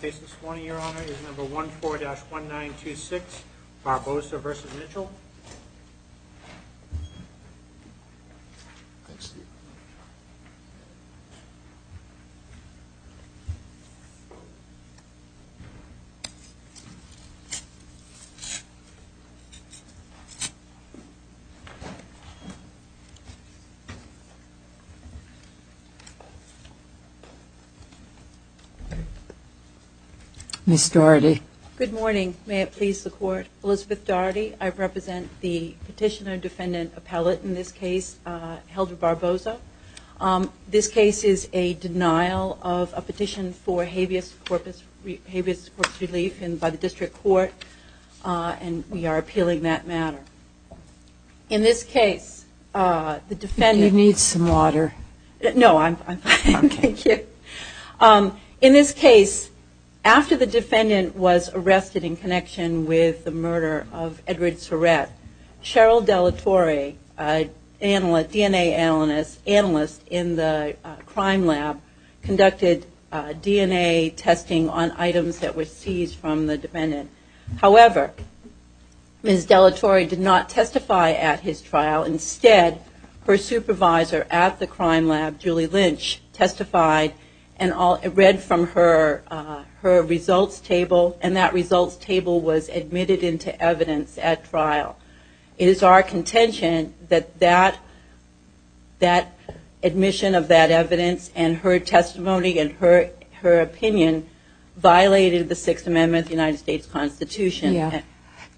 case this morning your honor is number 1 4-1 9 2 6 Barbosa versus Mitchell Ms. Dougherty. Good morning, may it please the court. Elizabeth Dougherty, I represent the petitioner defendant appellate in this case Hilda Barbosa. This case is a denial of a petition for habeas corpus relief by the district court and we are appealing that matter. In this case the defendant you need some water. No I'm fine. In this case after the defendant was arrested in connection with the murder of Edward Surratt, Cheryl Delatory, a DNA analyst in the crime lab conducted DNA testing on items that were seized from the defendant. However, Ms. Delatory did not testify at his trial instead her supervisor at the crime lab, Julie Lynch, testified and read from her results table and that results table was admitted into evidence at trial. It is our contention that that admission of that evidence and her testimony and her opinion violated the 6th amendment of the United States Constitution.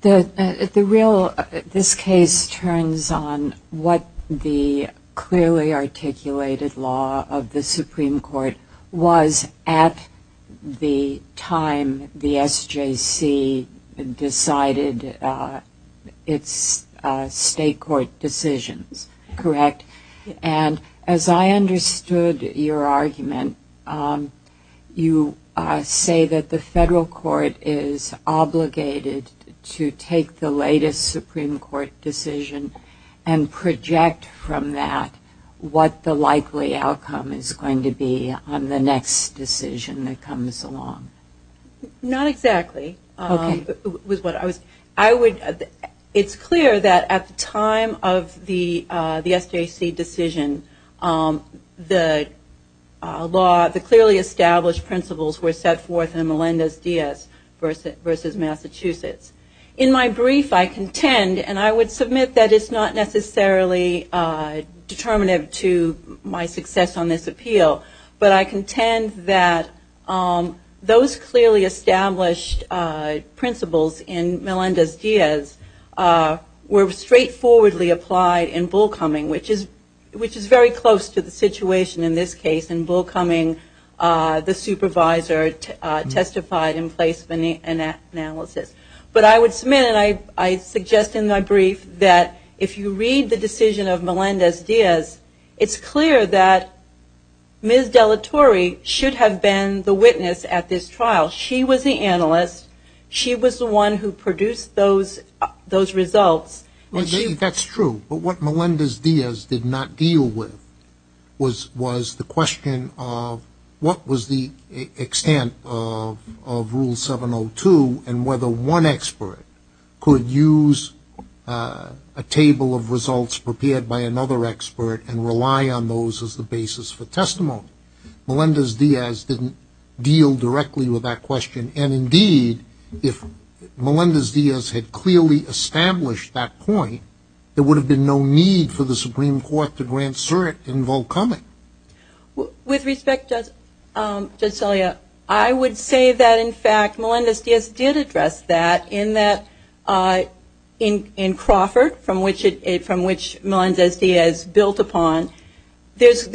This case turns on what the clearly articulated law of the Supreme Court was at the time the SJC decided its state court decisions. And as I understood your argument, you say that the federal court is obligated to take the latest Supreme Court decision and project from that what the likely outcome is going to be on the next decision that comes along. Not exactly. It's clear that at the time of the SJC decision the clearly established principles were set forth in Melendez-Diaz versus Massachusetts. In my brief I contend and I would submit that it's not necessarily determinative to my success on this appeal, but I contend that those clearly established principles in Melendez-Diaz were that if you read the decision of Melendez-Diaz, it's clear that Ms. Delatory should have been the witness at this trial. She was the analyst. She was the one who produced those results. That's true, but what Melendez-Diaz did not deal with was the question of what was the extent of Rule 702 and whether one expert could use a table of results prepared by another expert and rely on those as the basis for testimony. Melendez-Diaz didn't deal directly with that question and indeed if Melendez-Diaz had clearly established that point, there would have been no need for the Supreme Court to grant cert in Volkoming. With respect, Judge Celia, I would say that in fact Melendez-Diaz did address that in Crawford from which Melendez-Diaz built upon. There's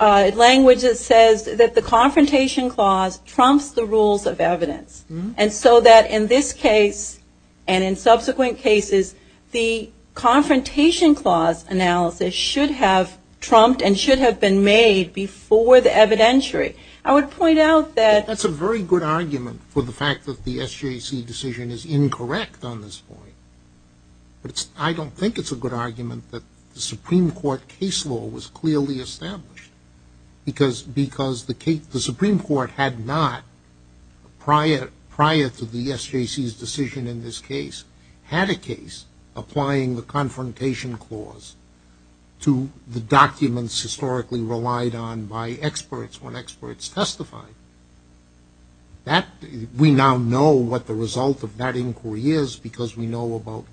language that says that the confrontation clause trumps the rules of evidence. And so that in this case and in subsequent cases, the confrontation clause analysis should have trumped and should have been made before the evidentiary. I would point out that... prior to the SJC's decision in this case, had a case applying the confrontation clause to the documents historically relied on by experts when experts testified. We now know what the result of that inquiry is because we've got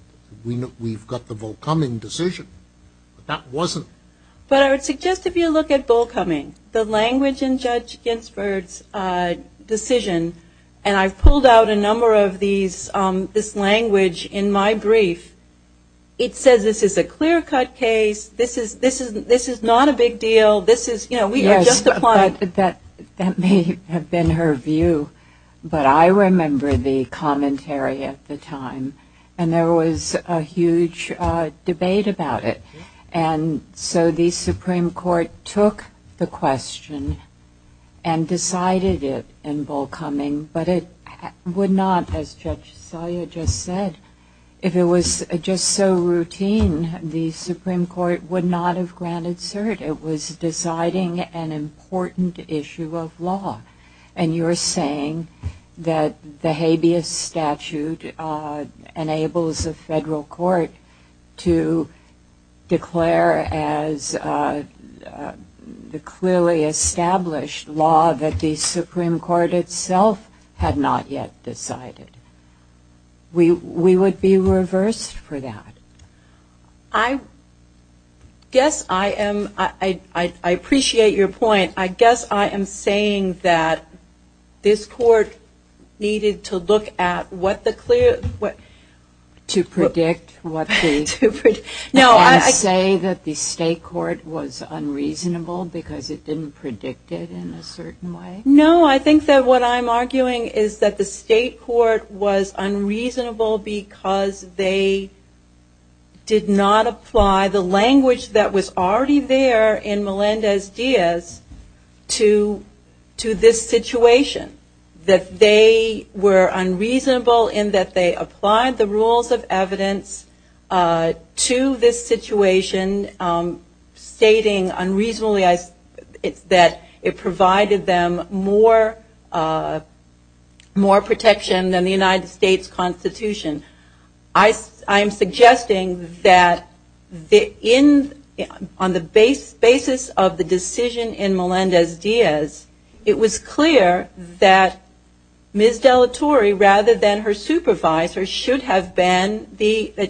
the Volkoming decision, but that wasn't... But I would suggest if you look at Volkoming, the language in Judge Ginsberg's decision, and I've pulled out a number of these, this language in my brief, it says this is a clear-cut case, this is not a big deal, this is, you know, we are just applying... So the Supreme Court took the question and decided it in Volkoming, but it would not, as Judge Celia just said, if it was just so routine, the Supreme Court would not have granted cert. It was deciding an important issue of law. And you're saying that the habeas statute enables a federal court to declare as the clearly established law that the Supreme Court itself had not yet decided. We would be reversed for that. I guess I am... I appreciate your point. I guess I am saying that this court needed to look at what the clear... To predict what the... To predict... No, I... Can you say that the state court was unreasonable because it didn't predict it in a certain way? No, I think that what I'm arguing is that the state court was unreasonable because they did not apply the language that was already there in Melendez-Diaz to this situation. That they were unreasonable in that they applied the rules of evidence to this situation stating unreasonably that it provided them more protection than the United States Constitution. I'm suggesting that on the basis of the decision in Melendez-Diaz, it was clear that Ms. Dellatori, rather than her supervisor, should have been the... They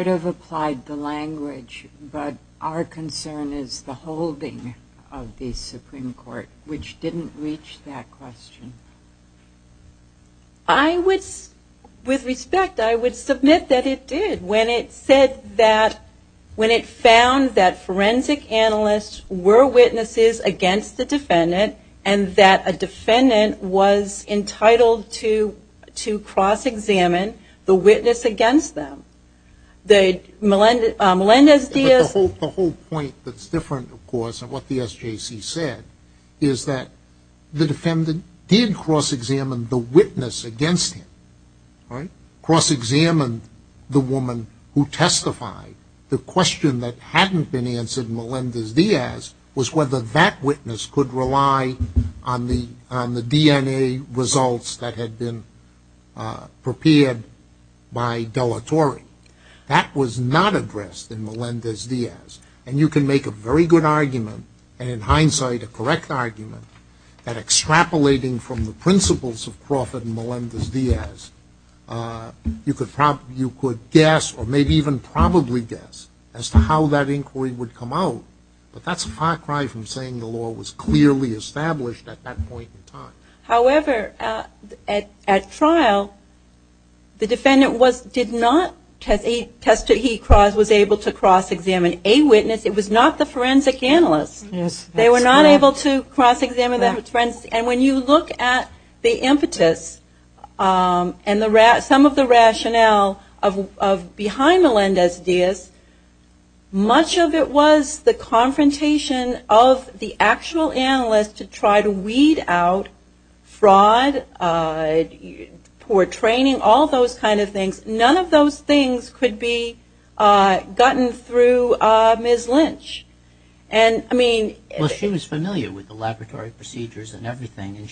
should have applied the language, but our concern is the holding of the Supreme Court, which didn't reach that question. I would... With respect, I would submit that it did when it said that... When it found that forensic analysts were witnesses against the defendant and that a defendant was entitled to cross-examine the witness against them. The Melendez-Diaz... The whole point that's different, of course, of what the SJC said is that the defendant did cross-examine the witness against him. Cross-examined the woman who testified. The question that hadn't been answered in Melendez-Diaz was whether that witness could rely on the DNA results that had been prepared by Dellatori. That was not addressed in Melendez-Diaz. And you can make a very good argument, and in hindsight, a correct argument, that extrapolating from the principles of Crawford and Melendez-Diaz, you could guess, or maybe even probably guess, as to how that inquiry would come out. But that's a far cry from saying the law was clearly established at that point in time. However, at trial, the defendant did not... He was able to cross-examine a witness. It was not the forensic analyst. They were not able to cross-examine the forensic analyst. And when you look at the impetus and some of the rationale behind Melendez-Diaz, much of it was the confrontation of the actual analyst to try to weed out fraud, poor training, all those kind of things. None of those things could be gotten through Ms. Lynch. Well, she was familiar with the laboratory procedures and everything, and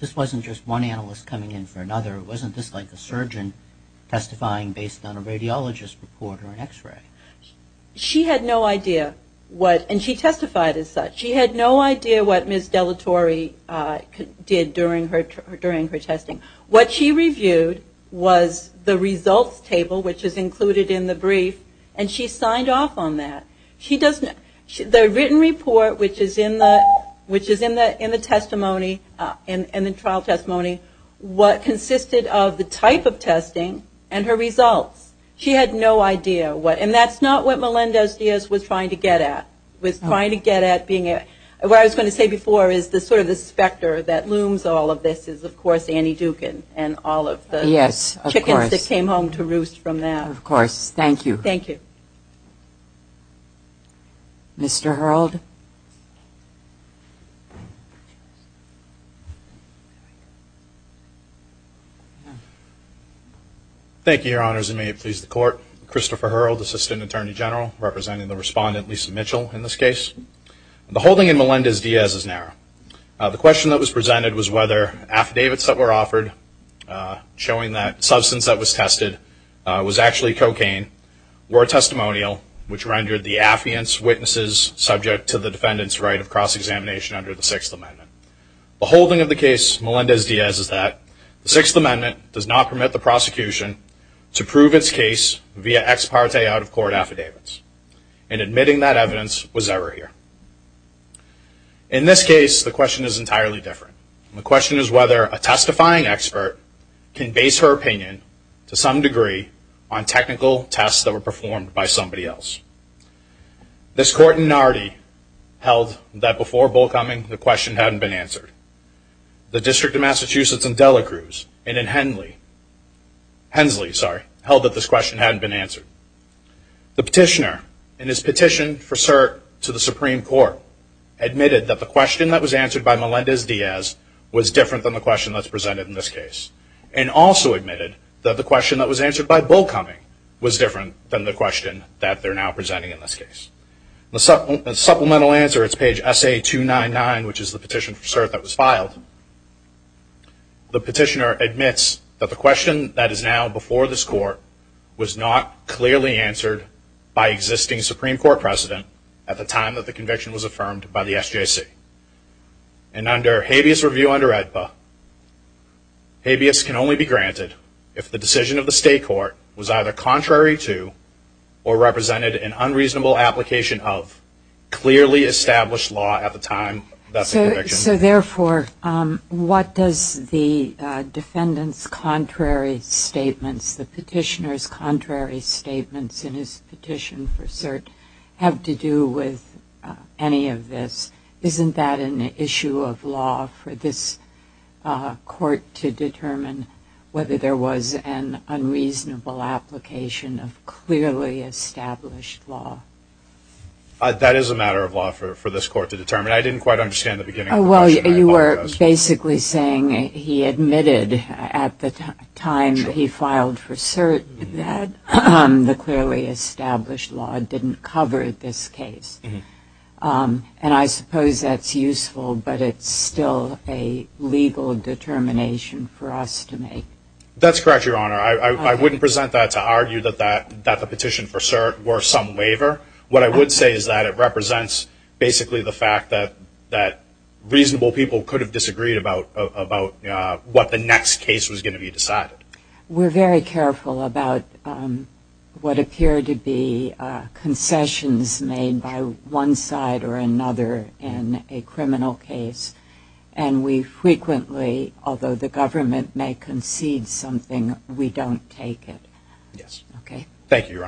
this wasn't just one analyst coming in for another. It wasn't just like a surgeon testifying based on a radiologist report or an x-ray. She had no idea what, and she testified as such, she had no idea what Ms. Dellatori did during her testing. What she reviewed was the results table, which is included in the brief, and she signed off on that. The written report, which is in the testimony, in the trial testimony, consisted of the type of testing and her results. She had no idea what, and that's not what Melendez-Diaz was trying to get at. What I was going to say before is sort of the specter that looms all of this is, of course, Annie Dukin and all of the chickens that came home to roost from that. Of course, thank you. Thank you. Mr. Hurled? Thank you, Your Honors, and may it please the Court. Christopher Hurled, Assistant Attorney General, representing the respondent, Lisa Mitchell, in this case. The holding in Melendez-Diaz is narrow. The question that was presented was whether affidavits that were offered showing that substance that was tested was actually cocaine were testimonial, which rendered the affiant's witnesses subject to the defendant's right of cross-examination under the Sixth Amendment. The holding of the case, Melendez-Diaz, is that the Sixth Amendment does not permit the prosecution to prove its case via ex parte out-of-court affidavits, and admitting that evidence was error here. In this case, the question is entirely different. The question is whether a testifying expert can base her opinion, to some degree, on technical tests that were performed by somebody else. This Court in Nardi held that before Bullcoming, the question hadn't been answered. The District of Massachusetts in Delacruz and in Hensley held that this question hadn't been answered. The petitioner, in his petition for cert to the Supreme Court, admitted that the question that was answered by Melendez-Diaz was different than the question that's presented in this case, and also admitted that the question that was answered by Bullcoming was different than the question that they're now presenting in this case. The supplemental answer is page SA-299, which is the petition for cert that was filed. The petitioner admits that the question that is now before this Court was not clearly answered by existing Supreme Court precedent at the time that the conviction was affirmed by the SJC. And under habeas review under AEDPA, habeas can only be granted if the decision of the State Court was either contrary to or represented an unreasonable application of clearly established law at the time of the conviction. So therefore, what does the defendant's contrary statements, the petitioner's contrary statements in his petition for cert have to do with any of this? Isn't that an issue of law for this Court to determine whether there was an unreasonable application of clearly established law? That is a matter of law for this Court to determine. I didn't quite understand the beginning of the question. Well, you were basically saying he admitted at the time that he filed for cert that the clearly established law didn't cover this case. And I suppose that's useful, but it's still a legal determination for us to make. That's correct, Your Honor. I wouldn't present that to argue that the petition for cert were some waiver. What I would say is that it represents basically the fact that reasonable people could have disagreed about what the next case was going to be decided. We're very careful about what appear to be concessions made by one side or another in a criminal case. And we frequently, although the government may concede something, we don't take it. Thank you, Your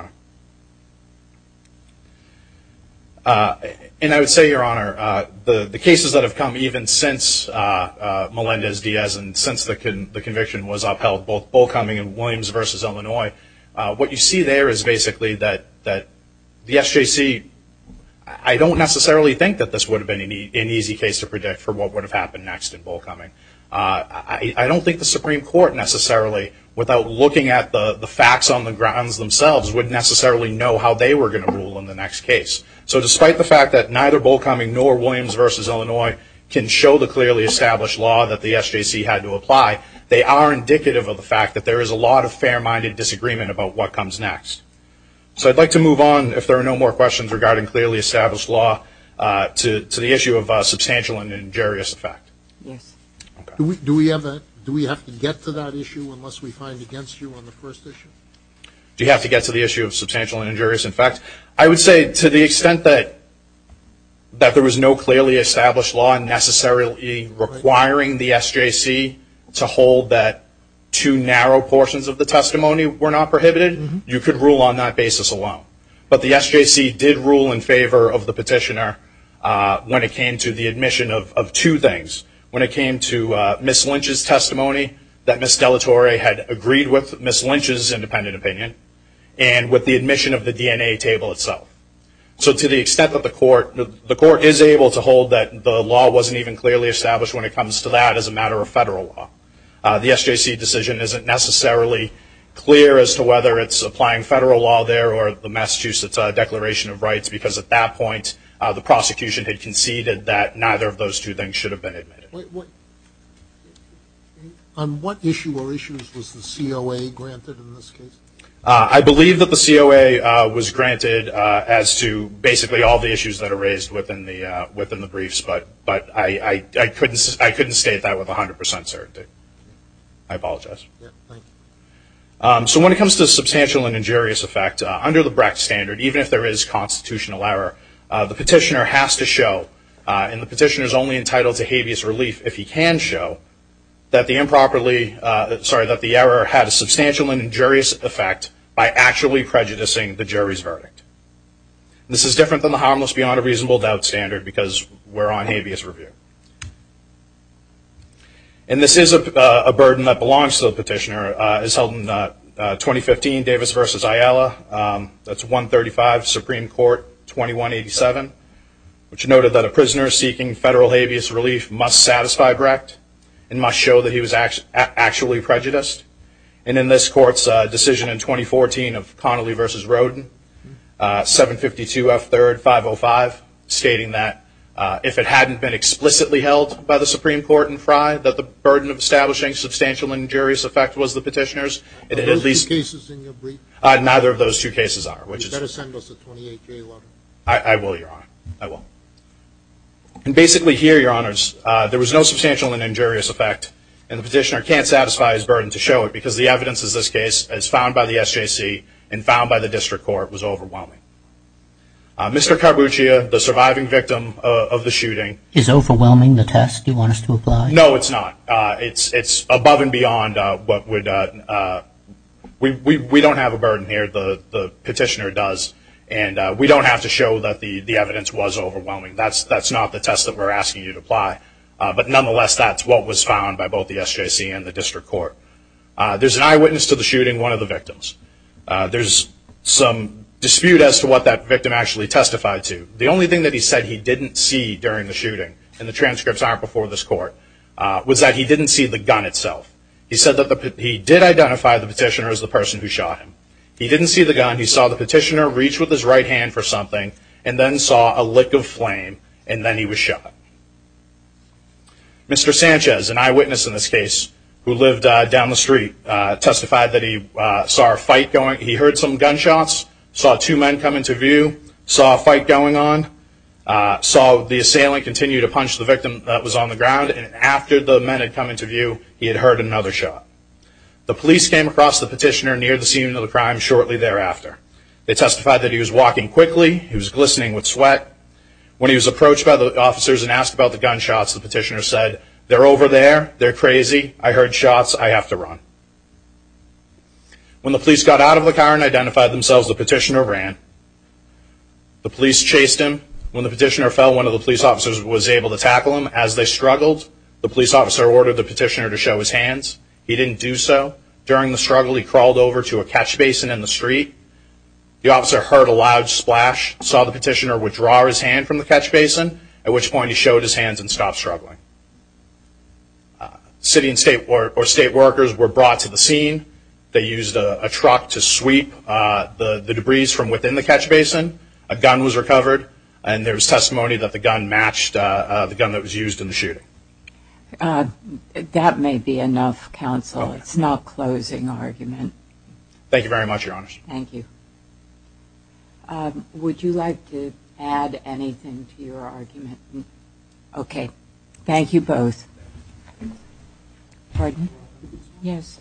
Honor. And I would say, Your Honor, the cases that have come even since Melendez-Diaz and since the conviction was upheld, both Bullcoming and Williams v. Illinois, what you see there is basically that the SJC, I don't necessarily think that this would have been an easy case to predict for what would have happened next in Bullcoming. I don't think the Supreme Court necessarily, without looking at the facts on the grounds themselves, would necessarily know how they were going to rule in the next case. So despite the fact that neither Bullcoming nor Williams v. Illinois can show the clearly established law that the SJC had to apply, they are indicative of the fact that there is a lot of fair-minded disagreement about what comes next. So I'd like to move on, if there are no more questions regarding clearly established law, to the issue of substantial and injurious effect. Yes. Do we have to get to that issue unless we find against you on the first issue? Do you have to get to the issue of substantial and injurious effect? I would say to the extent that there was no clearly established law necessarily requiring the SJC to hold that two narrow portions of the testimony were not prohibited, you could rule on that basis alone. But the SJC did rule in favor of the petitioner when it came to the admission of two things. When it came to Ms. Lynch's testimony that Ms. Dellatore had agreed with Ms. Lynch's independent opinion and with the admission of the DNA table itself. So to the extent that the court is able to hold that the law wasn't even clearly established when it comes to that as a matter of federal law, the SJC decision isn't necessarily clear as to whether it's applying federal law there or the Massachusetts Declaration of Rights because at that point the prosecution had conceded that neither of those two things should have been admitted. On what issue or issues was the COA granted in this case? I believe that the COA was granted as to basically all the issues that are raised within the briefs, but I couldn't state that with 100% certainty. I apologize. So when it comes to substantial and injurious effect, under the Brecht Standard, even if there is constitutional error, the petitioner has to show, and the petitioner is only entitled to habeas relief if he can show, that the error had a substantial and injurious effect by actually prejudicing the jury's verdict. This is different than the Harmless Beyond a Reasonable Doubt Standard because we're on habeas review. And this is a burden that belongs to the petitioner. It's held in 2015, Davis v. Ayala. That's 135, Supreme Court, 2187, which noted that a prisoner seeking federal habeas relief must satisfy Brecht and must show that he was actually prejudiced. And in this court's decision in 2014 of Connolly v. Rodin, 752 F. 3rd, 505, stating that if it hadn't been explicitly held by the Supreme Court in Frye that the burden of establishing substantial and injurious effect was the petitioner's, it at least – Are those two cases in your brief? Neither of those two cases are, which is – You better send us a 28-day letter. I will, Your Honor. I will. And basically here, Your Honors, there was no substantial and injurious effect, and the petitioner can't satisfy his burden to show it because the evidence in this case is found by the SJC and found by the district court was overwhelming. Mr. Carbuccia, the surviving victim of the shooting – Is overwhelming the test you want us to apply? No, it's not. It's above and beyond what would – we don't have a burden here. The petitioner does. And we don't have to show that the evidence was overwhelming. That's not the test that we're asking you to apply. But nonetheless, that's what was found by both the SJC and the district court. There's an eyewitness to the shooting, one of the victims. There's some dispute as to what that victim actually testified to. The only thing that he said he didn't see during the shooting, and the transcripts aren't before this court, was that he didn't see the gun itself. He said that he did identify the petitioner as the person who shot him. He didn't see the gun. He saw the petitioner reach with his right hand for something and then saw a lick of flame, and then he was shot. Mr. Sanchez, an eyewitness in this case who lived down the street, testified that he saw a fight going – he heard some gunshots, saw two men come into view, saw a fight going on, saw the assailant continue to punch the victim that was on the ground, and after the men had come into view, he had heard another shot. The police came across the petitioner near the scene of the crime shortly thereafter. They testified that he was walking quickly, he was glistening with sweat. When he was approached by the officers and asked about the gunshots, the petitioner said, they're over there, they're crazy, I heard shots, I have to run. When the police got out of the car and identified themselves, the petitioner ran. The police chased him. When the petitioner fell, one of the police officers was able to tackle him. As they struggled, the police officer ordered the petitioner to show his hands. He didn't do so. During the struggle, he crawled over to a catch basin in the street. The officer heard a loud splash, saw the petitioner withdraw his hand from the catch basin, at which point he showed his hands and stopped struggling. City and state workers were brought to the scene. They used a truck to sweep the debris from within the catch basin. A gun was recovered, and there was testimony that the gun matched the gun that was used in the shooting. That may be enough, counsel. It's not a closing argument. Thank you very much, Your Honor. Thank you. Would you like to add anything to your argument? Okay. Thank you both. Pardon? Yes.